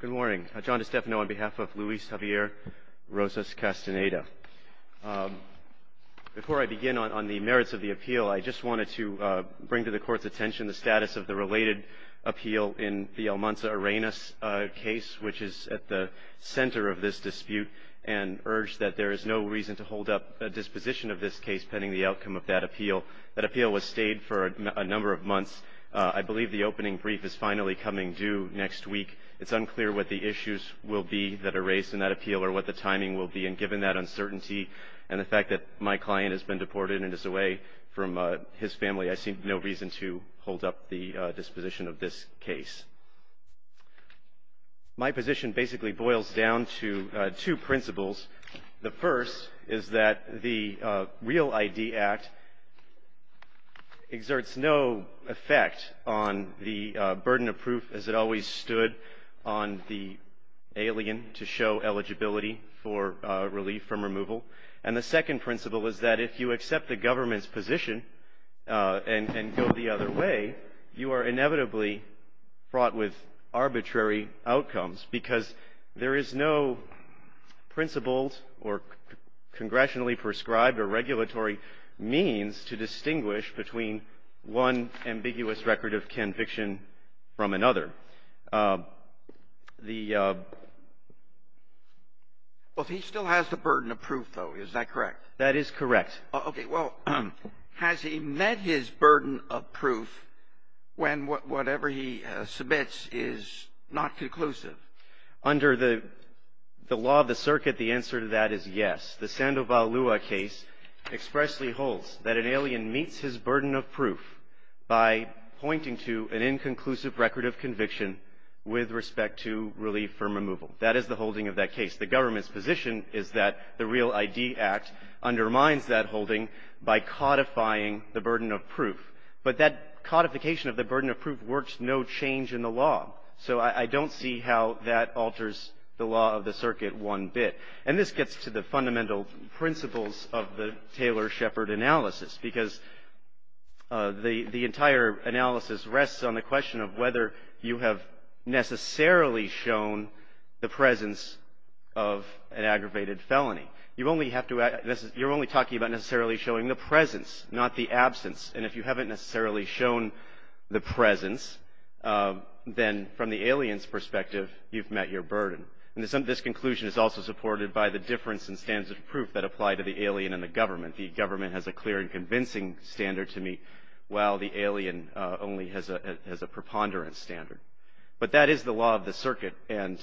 Good morning. John DiStefano on behalf of Luis Javier Rosas-Castaneda. Before I begin on the merits of the appeal, I just wanted to bring to the Court's attention the status of the related appeal in the Almanza-Arenas case, which is at the center of this dispute, and urge that there is no reason to hold up a disposition of this case pending the outcome of that appeal. That appeal was stayed for a number of months. I believe the opening brief is finally coming due next week. It's unclear what the issues will be that are raised in that appeal or what the timing will be. And given that uncertainty and the fact that my client has been deported and is away from his family, I see no reason to hold up the disposition of this case. My position basically boils down to two principles. The first is that the Real ID Act exerts no effect on the burden of proof, as it always stood, on the alien to show eligibility for relief from removal. And the second principle is that if you accept the government's position and go the other way, you are inevitably fraught with arbitrary outcomes because there is no principled or congressionally prescribed or regulatory means to distinguish between one ambiguous record of conviction from another. The ---- Well, he still has the burden of proof, though. Is that correct? That is correct. Okay. Well, has he met his burden of proof when whatever he submits is not conclusive? Under the law of the circuit, the answer to that is yes. The Sandoval Lua case expressly holds that an alien meets his burden of proof by pointing to an inconclusive record of conviction with respect to relief from removal. That is the holding of that case. The government's position is that the Real ID Act undermines that holding by codifying the burden of proof. But that codification of the burden of proof works no change in the law. So I don't see how that alters the law of the circuit one bit. And this gets to the fundamental principles of the Taylor-Shepard analysis, because the entire analysis rests on the question of whether you have necessarily shown the presence of an aggravated felony. You only have to ---- you're only talking about necessarily showing the presence, not the absence. And if you haven't necessarily shown the presence, then from the alien's perspective, you've met your burden. And this conclusion is also supported by the difference in standards of proof that apply to the alien and the government. The government has a clear and convincing standard to meet, while the alien only has a preponderance standard. But that is the law of the circuit. And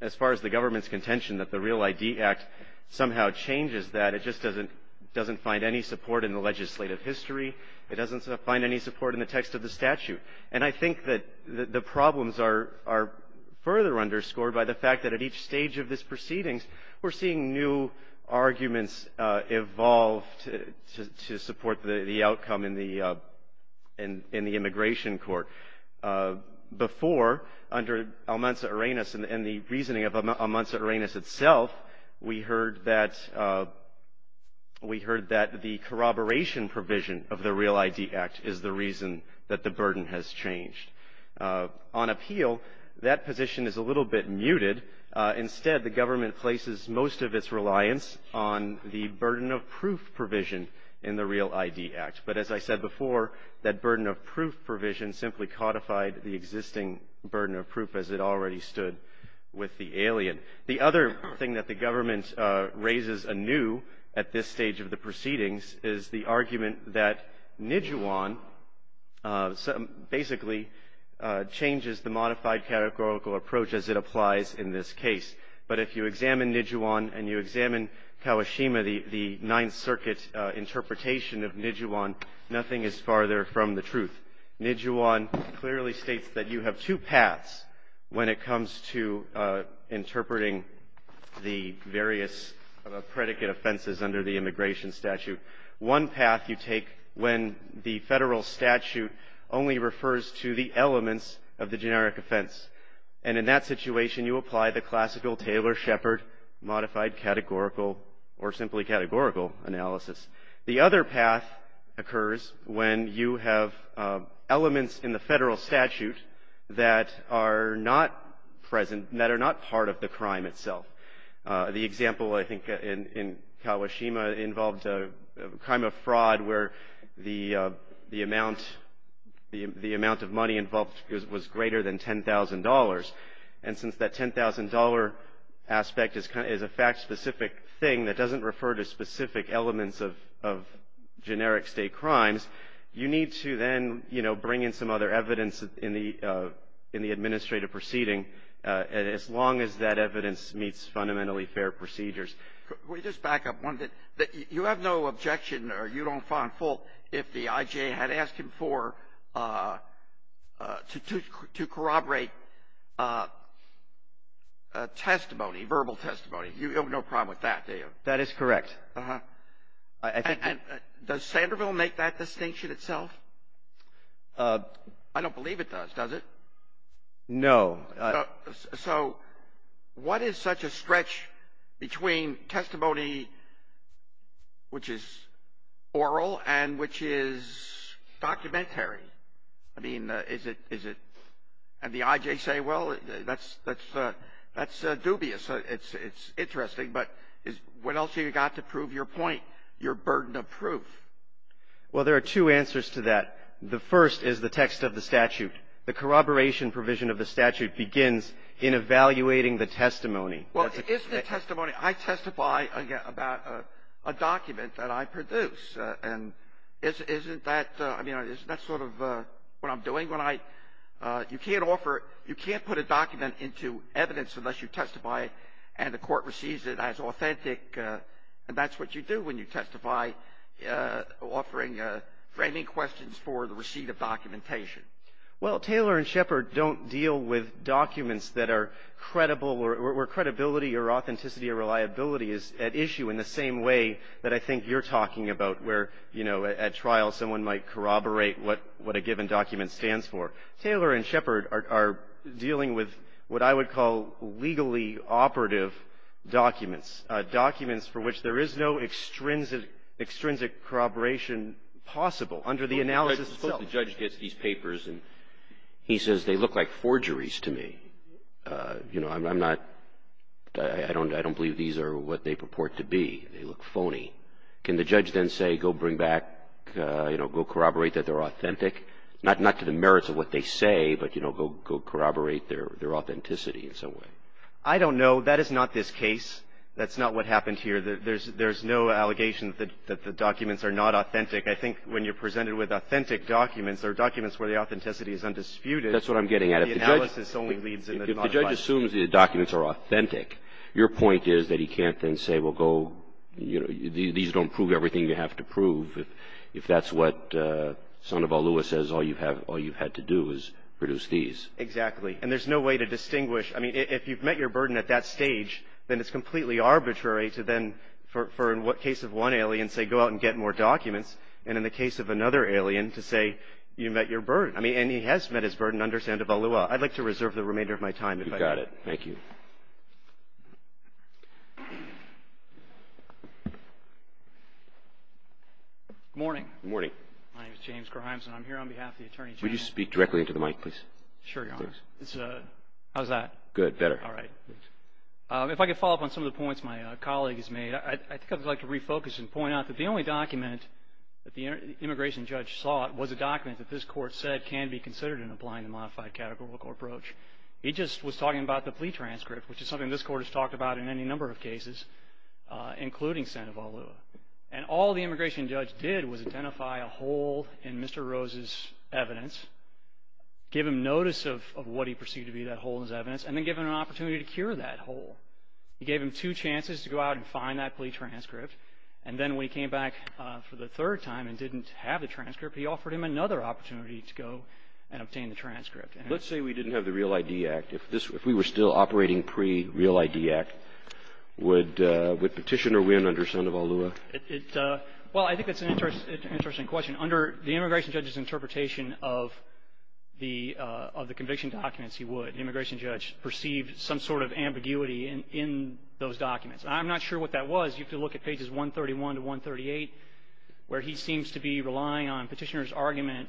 as far as the government's contention that the Real ID Act somehow changes that, it just doesn't find any support in the legislative history. It doesn't find any support in the text of the statute. And I think that the problems are further underscored by the fact that at each stage of this proceedings, we're seeing new arguments evolve to support the outcome in the immigration court. Before, under Almanza-Arenas and the reasoning of Almanza-Arenas itself, we heard that the corroboration provision of the Real ID Act is the reason that the burden has changed. On appeal, that position is a little bit muted. Instead, the government places most of its reliance on the burden of proof provision in the Real ID Act. But as I said before, that burden of proof provision simply codified the existing burden of proof, as it already stood with the alien. The other thing that the government raises anew at this stage of the proceedings is the argument that Nijuan basically changes the modified categorical approach as it applies in this case. But if you examine Nijuan and you examine Kawashima, the Ninth Circuit's interpretation of Nijuan, nothing is farther from the truth. Nijuan clearly states that you have two paths when it comes to interpreting the various predicate offenses under the immigration statute. One path you take when the federal statute only refers to the elements of the generic offense. And in that situation, you apply the classical Taylor-Shepard modified categorical or simply categorical analysis. The other path occurs when you have elements in the federal statute that are not present, that are not part of the crime itself. The example, I think, in Kawashima involved a crime of fraud where the amount of money involved was greater than $10,000. And since that $10,000 aspect is a fact-specific thing that doesn't refer to specific elements of generic state crimes, you need to then, you know, bring in some other evidence in the administrative proceeding. And as long as that evidence meets fundamentally fair procedures. Can we just back up one thing? You have no objection or you don't find fault if the IJA had asked him for, to corroborate testimony, verbal testimony. You have no problem with that, do you? That is correct. Uh-huh. And does Sanderville make that distinction itself? I don't believe it does, does it? No. So what is such a stretch between testimony which is oral and which is documentary? I mean, is it, and the IJA say, well, that's dubious. It's interesting. But what else have you got to prove your point, your burden of proof? Well, there are two answers to that. The first is the text of the statute. The corroboration provision of the statute begins in evaluating the testimony. Well, isn't the testimony, I testify about a document that I produce. And isn't that, I mean, isn't that sort of what I'm doing when I, you can't offer, you can't put a document into evidence unless you testify and the court receives it as authentic. And that's what you do when you testify, offering framing questions for the receipt of documentation. Well, Taylor and Shepard don't deal with documents that are credible or where credibility or authenticity or reliability is at issue in the same way that I think you're talking about, where, you know, at trial someone might corroborate what a given document stands for. Taylor and Shepard are dealing with what I would call legally operative documents, documents for which there is no extrinsic corroboration possible under the analysis itself. The judge gets these papers and he says, they look like forgeries to me. You know, I'm not, I don't believe these are what they purport to be. They look phony. Can the judge then say, go bring back, you know, go corroborate that they're authentic, not to the merits of what they say, but, you know, go corroborate their authenticity in some way? I don't know. That is not this case. That's not what happened here. There's no allegation that the documents are not authentic. I think when you're presented with authentic documents, they're documents where the authenticity is undisputed. That's what I'm getting at. If the judge assumes the documents are authentic, your point is that he can't then say, well, go, you know, these don't prove everything you have to prove, if that's what Sandoval Lewis says all you've had to do is produce these. Exactly. And there's no way to distinguish. I mean, if you've met your burden at that stage, then it's completely arbitrary to then, for in what case of one alien, say, go out and get more documents, and in the case of another alien to say you met your burden. I mean, and he has met his burden under Sandoval Lewis. I'd like to reserve the remainder of my time if I could. You got it. Thank you. Good morning. Good morning. My name is James Grimes, and I'm here on behalf of the Attorney General. Would you speak directly into the mic, please? Sure, Your Honor. How's that? Good. Better. All right. If I could follow up on some of the points my colleague has made, I think I'd like to refocus and point out that the only document that the immigration judge sought was a document that this Court said can be considered in applying the modified categorical approach. It just was talking about the plea transcript, which is something this Court has talked about in any number of cases, including Sandoval Lewis. And all the immigration judge did was identify a hole in Mr. Rose's evidence, give him notice of what he perceived to be that hole in his evidence, and then give him an opportunity to cure that hole. He gave him two chances to go out and find that plea transcript, and then when he came back for the third time and didn't have the transcript, he offered him another opportunity to go and obtain the transcript. Let's say we didn't have the Real ID Act. If we were still operating pre-Real ID Act, would petitioner win under Sandoval Lewis? Well, I think that's an interesting question. I mean, under the immigration judge's interpretation of the conviction documents, he would. The immigration judge perceived some sort of ambiguity in those documents. I'm not sure what that was. You could look at pages 131 to 138, where he seems to be relying on petitioner's argument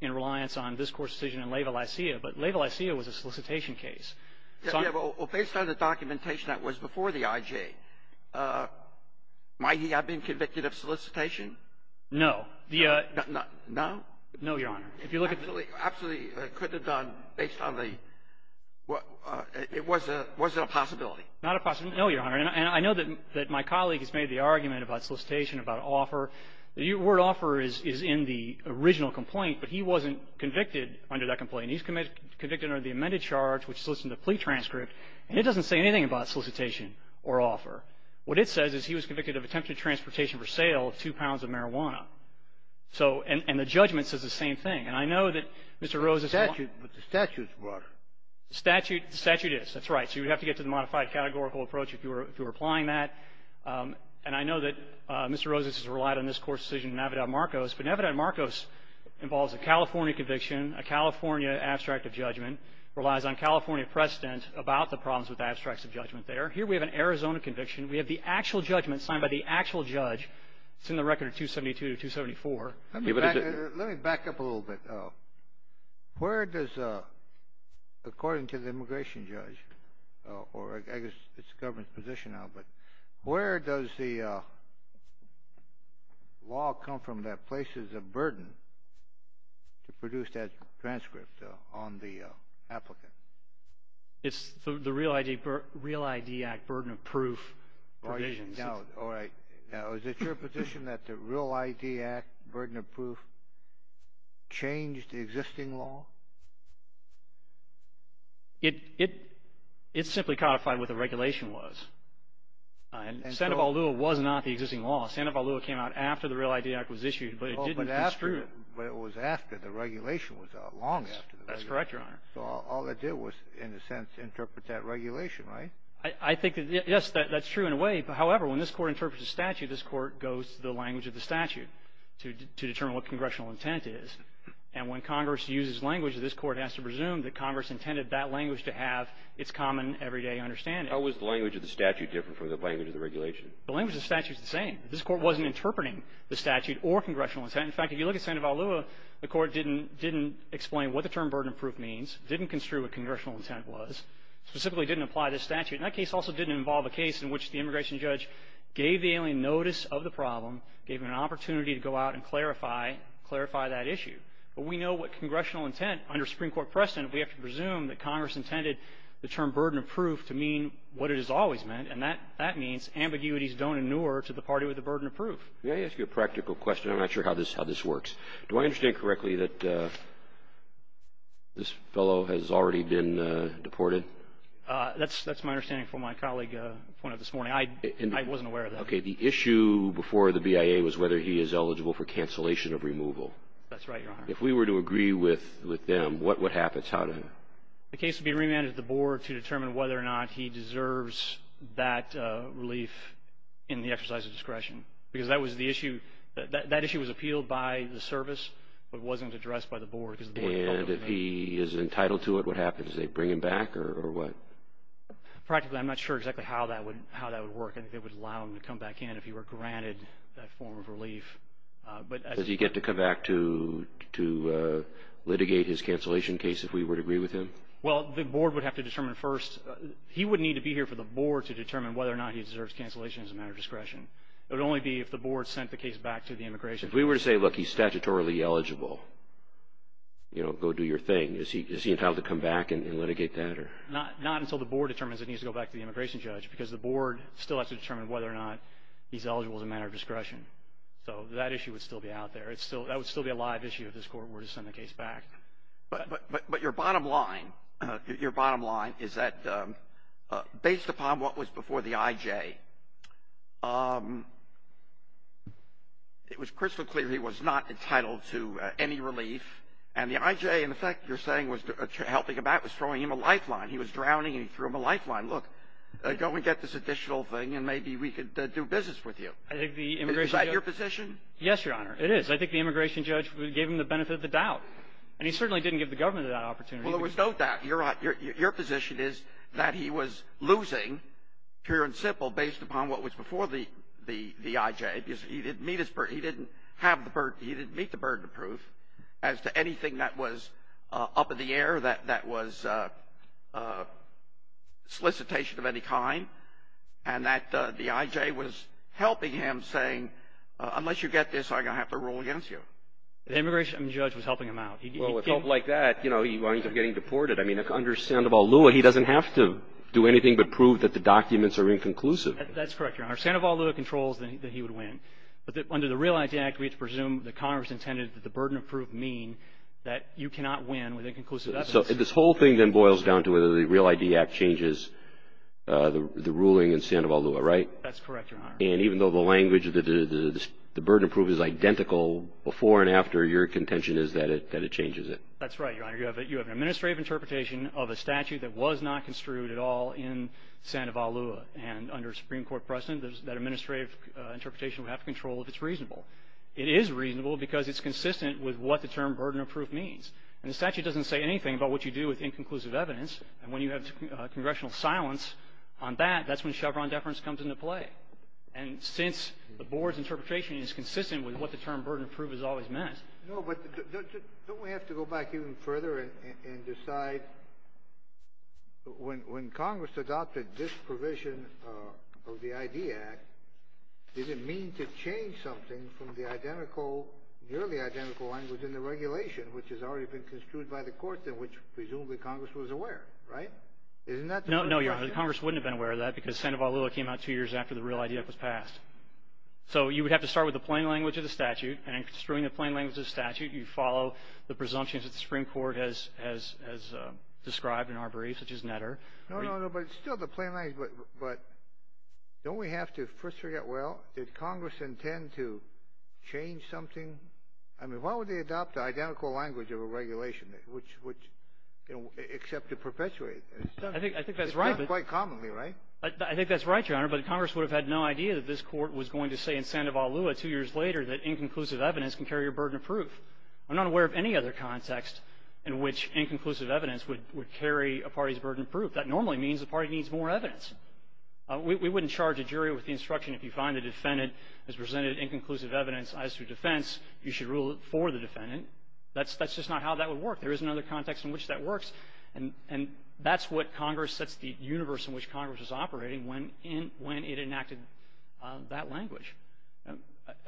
in reliance on this Court's decision in Laval-Isia, but Laval-Isia was a solicitation case. Well, based on the documentation that was before the IJ, might he have been convicted of solicitation? No. Not now? No, Your Honor. If you look at the ---- Absolutely. Absolutely. It couldn't have gone based on the ---- Was it a possibility? Not a possibility. No, Your Honor. And I know that my colleague has made the argument about solicitation, about offer. The word offer is in the original complaint, but he wasn't convicted under that complaint. He was convicted under the amended charge, which solicited a plea transcript, and it doesn't say anything about solicitation or offer. What it says is he was convicted of attempted transportation for sale of two pounds of marijuana. So and the judgment says the same thing. And I know that Mr. Rosas ---- But the statute is broader. The statute is. That's right. So you would have to get to the modified categorical approach if you were applying that. And I know that Mr. Rosas has relied on this Court's decision in Navidad-Marcos, but Navidad-Marcos involves a California conviction, a California abstract of judgment, relies on California precedent about the problems with abstracts of judgment there. Here we have an Arizona conviction. We have the actual judgment signed by the actual judge. It's in the record of 272 to 274. Let me back up a little bit. Where does, according to the immigration judge, or I guess it's the government's position now, but where does the law come from that places a burden to produce that transcript on the applicant? It's the Real ID Act Burden of Proof provisions. All right. Now, is it your position that the Real ID Act Burden of Proof changed the existing law? It simply codified what the regulation was. And Sandoval-Lewis was not the existing law. Sandoval-Lewis came out after the Real ID Act was issued, but it didn't construe it. But it was after the regulation was out, long after the regulation. That's correct, Your Honor. So all it did was, in a sense, interpret that regulation, right? I think that, yes, that's true in a way. However, when this Court interprets a statute, this Court goes to the language of the statute to determine what congressional intent is. And when Congress uses language, this Court has to presume that Congress intended that language to have its common everyday understanding. How was the language of the statute different from the language of the regulation? The language of the statute is the same. This Court wasn't interpreting the statute or congressional intent. In fact, if you look at Sandoval-Lewis, the Court didn't explain what the term burden of proof means, didn't construe what congressional intent was, specifically didn't apply this statute. And that case also didn't involve a case in which the immigration judge gave the alien notice of the problem, gave him an opportunity to go out and clarify that issue. But we know what congressional intent under Supreme Court precedent, we have to presume that Congress intended the term burden of proof to mean what it has always meant, and that means ambiguities don't inure to the party with the burden of proof. May I ask you a practical question? I'm not sure how this works. Do I understand correctly that this fellow has already been deported? That's my understanding from my colleague's point of this morning. I wasn't aware of that. Okay. The issue before the BIA was whether he is eligible for cancellation of removal. That's right, Your Honor. If we were to agree with them, what happens? How does it happen? The case would be remanded to the board to determine whether or not he deserves that relief in the exercise of discretion. Because that was the issue. That issue was appealed by the service but wasn't addressed by the board. And if he is entitled to it, what happens? Do they bring him back or what? Practically, I'm not sure exactly how that would work. I think they would allow him to come back in if he were granted that form of relief. Does he get to come back to litigate his cancellation case if we were to agree with him? Well, the board would have to determine first. He would need to be here for the board to determine whether or not he deserves cancellation as a matter of discretion. It would only be if the board sent the case back to the immigration judge. If we were to say, look, he's statutorily eligible, you know, go do your thing, is he entitled to come back and litigate that? Not until the board determines that he needs to go back to the immigration judge because the board still has to determine whether or not he's eligible as a matter of discretion. So that issue would still be out there. That would still be a live issue if this court were to send the case back. But your bottom line is that based upon what was before the IJ, it was crystal clear he was not entitled to any relief. And the IJ, in effect, you're saying was helping him out, was throwing him a lifeline. He was drowning, and he threw him a lifeline. Look, go and get this additional thing, and maybe we could do business with you. Is that your position? Yes, Your Honor, it is. Because I think the immigration judge gave him the benefit of the doubt. And he certainly didn't give the government that opportunity. Well, there was no doubt. Your position is that he was losing, pure and simple, based upon what was before the IJ, because he didn't meet the burden of proof as to anything that was up in the air, that was solicitation of any kind, and that the IJ was helping him, saying, unless you get this, I'm going to have to rule against you. The immigration judge was helping him out. Well, with help like that, you know, he winds up getting deported. I mean, under Sandoval-Lewa, he doesn't have to do anything but prove that the documents are inconclusive. That's correct, Your Honor. Sandoval-Lewa controls that he would win. But under the REAL ID Act, we have to presume that Congress intended that the burden of proof mean that you cannot win with inconclusive evidence. So this whole thing then boils down to whether the REAL ID Act changes the ruling in Sandoval-Lewa, right? That's correct, Your Honor. And even though the language of the burden of proof is identical before and after your contention is that it changes it? That's right, Your Honor. You have an administrative interpretation of a statute that was not construed at all in Sandoval-Lewa. And under Supreme Court precedent, that administrative interpretation would have control if it's reasonable. It is reasonable because it's consistent with what the term burden of proof means. And the statute doesn't say anything about what you do with inconclusive evidence. And when you have congressional silence on that, that's when Chevron deference comes into play. And since the board's interpretation is consistent with what the term burden of proof has always meant. No, but don't we have to go back even further and decide when Congress adopted this provision of the IDEA Act, does it mean to change something from the identical, nearly identical language in the regulation, which has already been construed by the courts and which presumably Congress was aware, right? Isn't that the question? No, Your Honor. Congress wouldn't have been aware of that because Sandoval-Lewa came out two years after the real IDEA Act was passed. So you would have to start with the plain language of the statute, and in construing the plain language of the statute, you follow the presumptions that the Supreme Court has described in Arbery, such as Netter. No, no, no. But it's still the plain language. But don't we have to first figure out, well, did Congress intend to change something? I mean, why would they adopt the identical language of a regulation, which, you know, except to perpetuate it? I think that's right. It's done quite commonly, right? I think that's right, Your Honor. But Congress would have had no idea that this Court was going to say in Sandoval-Lewa two years later that inconclusive evidence can carry a burden of proof. I'm not aware of any other context in which inconclusive evidence would carry a party's burden of proof. That normally means the party needs more evidence. We wouldn't charge a jury with the instruction if you find a defendant has presented inconclusive evidence as to defense, you should rule it for the defendant. That's just not how that would work. There is another context in which that works, and that's what Congress sets the universe in which Congress is operating when it enacted that language.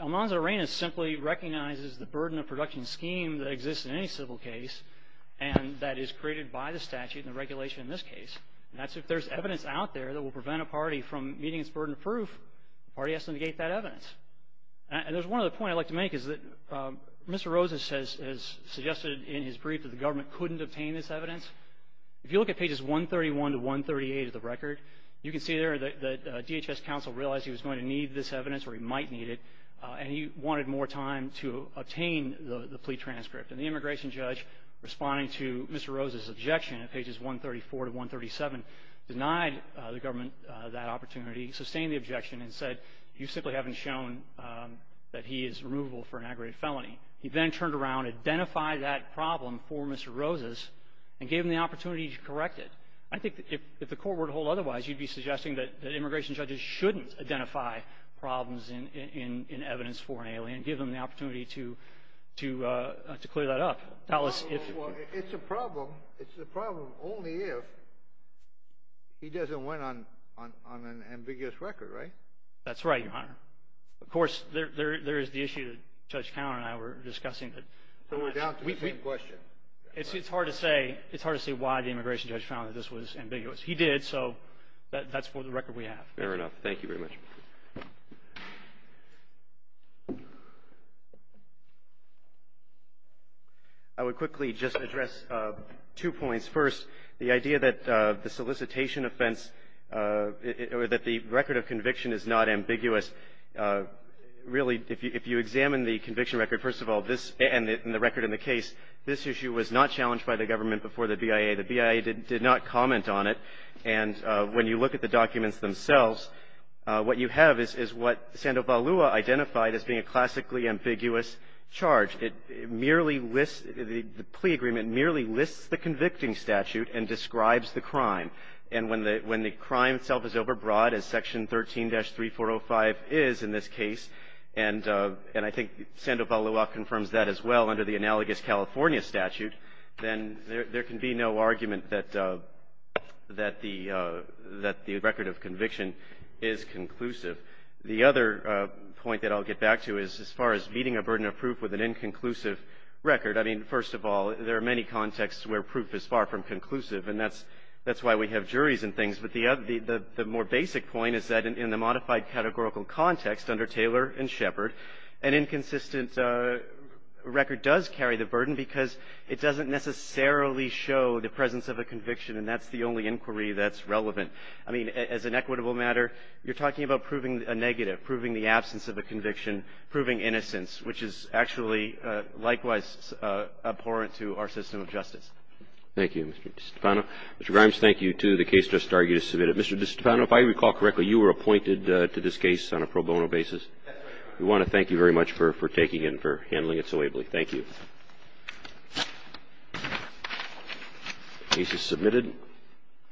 Almanza-Arenas simply recognizes the burden of production scheme that exists in any civil case and that is created by the statute and the regulation in this case. And that's if there's evidence out there that will prevent a party from meeting its burden of proof, the party has to negate that evidence. And there's one other point I'd like to make is that Mr. Rosas has suggested in his brief that the government couldn't obtain this evidence. If you look at pages 131 to 138 of the record, you can see there that DHS counsel realized he was going to need this evidence, or he might need it, and he wanted more time to obtain the plea transcript. And the immigration judge, responding to Mr. Rosas' objection at pages 134 to 137, denied the government that opportunity, sustained the objection, and said you simply haven't shown that he is removable for an aggravated felony. He then turned around, identified that problem for Mr. Rosas, and gave him the opportunity to correct it. I think if the court were to hold otherwise, you'd be suggesting that immigration judges shouldn't identify problems in evidence for an alien, give them the opportunity to clear that up. It's a problem only if he doesn't win on an ambiguous record, right? That's right, Your Honor. Of course, there is the issue that Judge Fowler and I were discussing. We're down to the same question. It's hard to say why the immigration judge found that this was ambiguous. He did, so that's the record we have. Fair enough. Thank you very much. I would quickly just address two points. First, the idea that the solicitation offense or that the record of conviction is not ambiguous, really if you examine the conviction record, first of all, and the record in the case, this issue was not challenged by the government before the BIA. The BIA did not comment on it. And when you look at the documents themselves, what you have is what Sandoval Lua identified as being a classically ambiguous charge. It merely lists the plea agreement merely lists the convicting statute and describes the crime. And when the crime itself is overbroad, as Section 13-3405 is in this case, and I think Sandoval Lua confirms that as well under the analogous California statute, then there can be no argument that the record of conviction is conclusive. The other point that I'll get back to is as far as meeting a burden of proof with an inconclusive record. I mean, first of all, there are many contexts where proof is far from conclusive, and that's why we have juries and things. But the more basic point is that in the modified categorical context under Taylor and Shepard, an inconsistent record does carry the burden because it doesn't necessarily show the presence of a conviction, and that's the only inquiry that's relevant. I mean, as an equitable matter, you're talking about proving a negative, proving the absence of a conviction, proving innocence, which is actually likewise abhorrent to our system of justice. Thank you, Mr. DiStefano. Mr. Grimes, thank you, too. The case just argued is submitted. Mr. DiStefano, if I recall correctly, you were appointed to this case on a pro bono basis. That's correct. We want to thank you very much for taking it and for handling it so ably. Thank you. The case is submitted.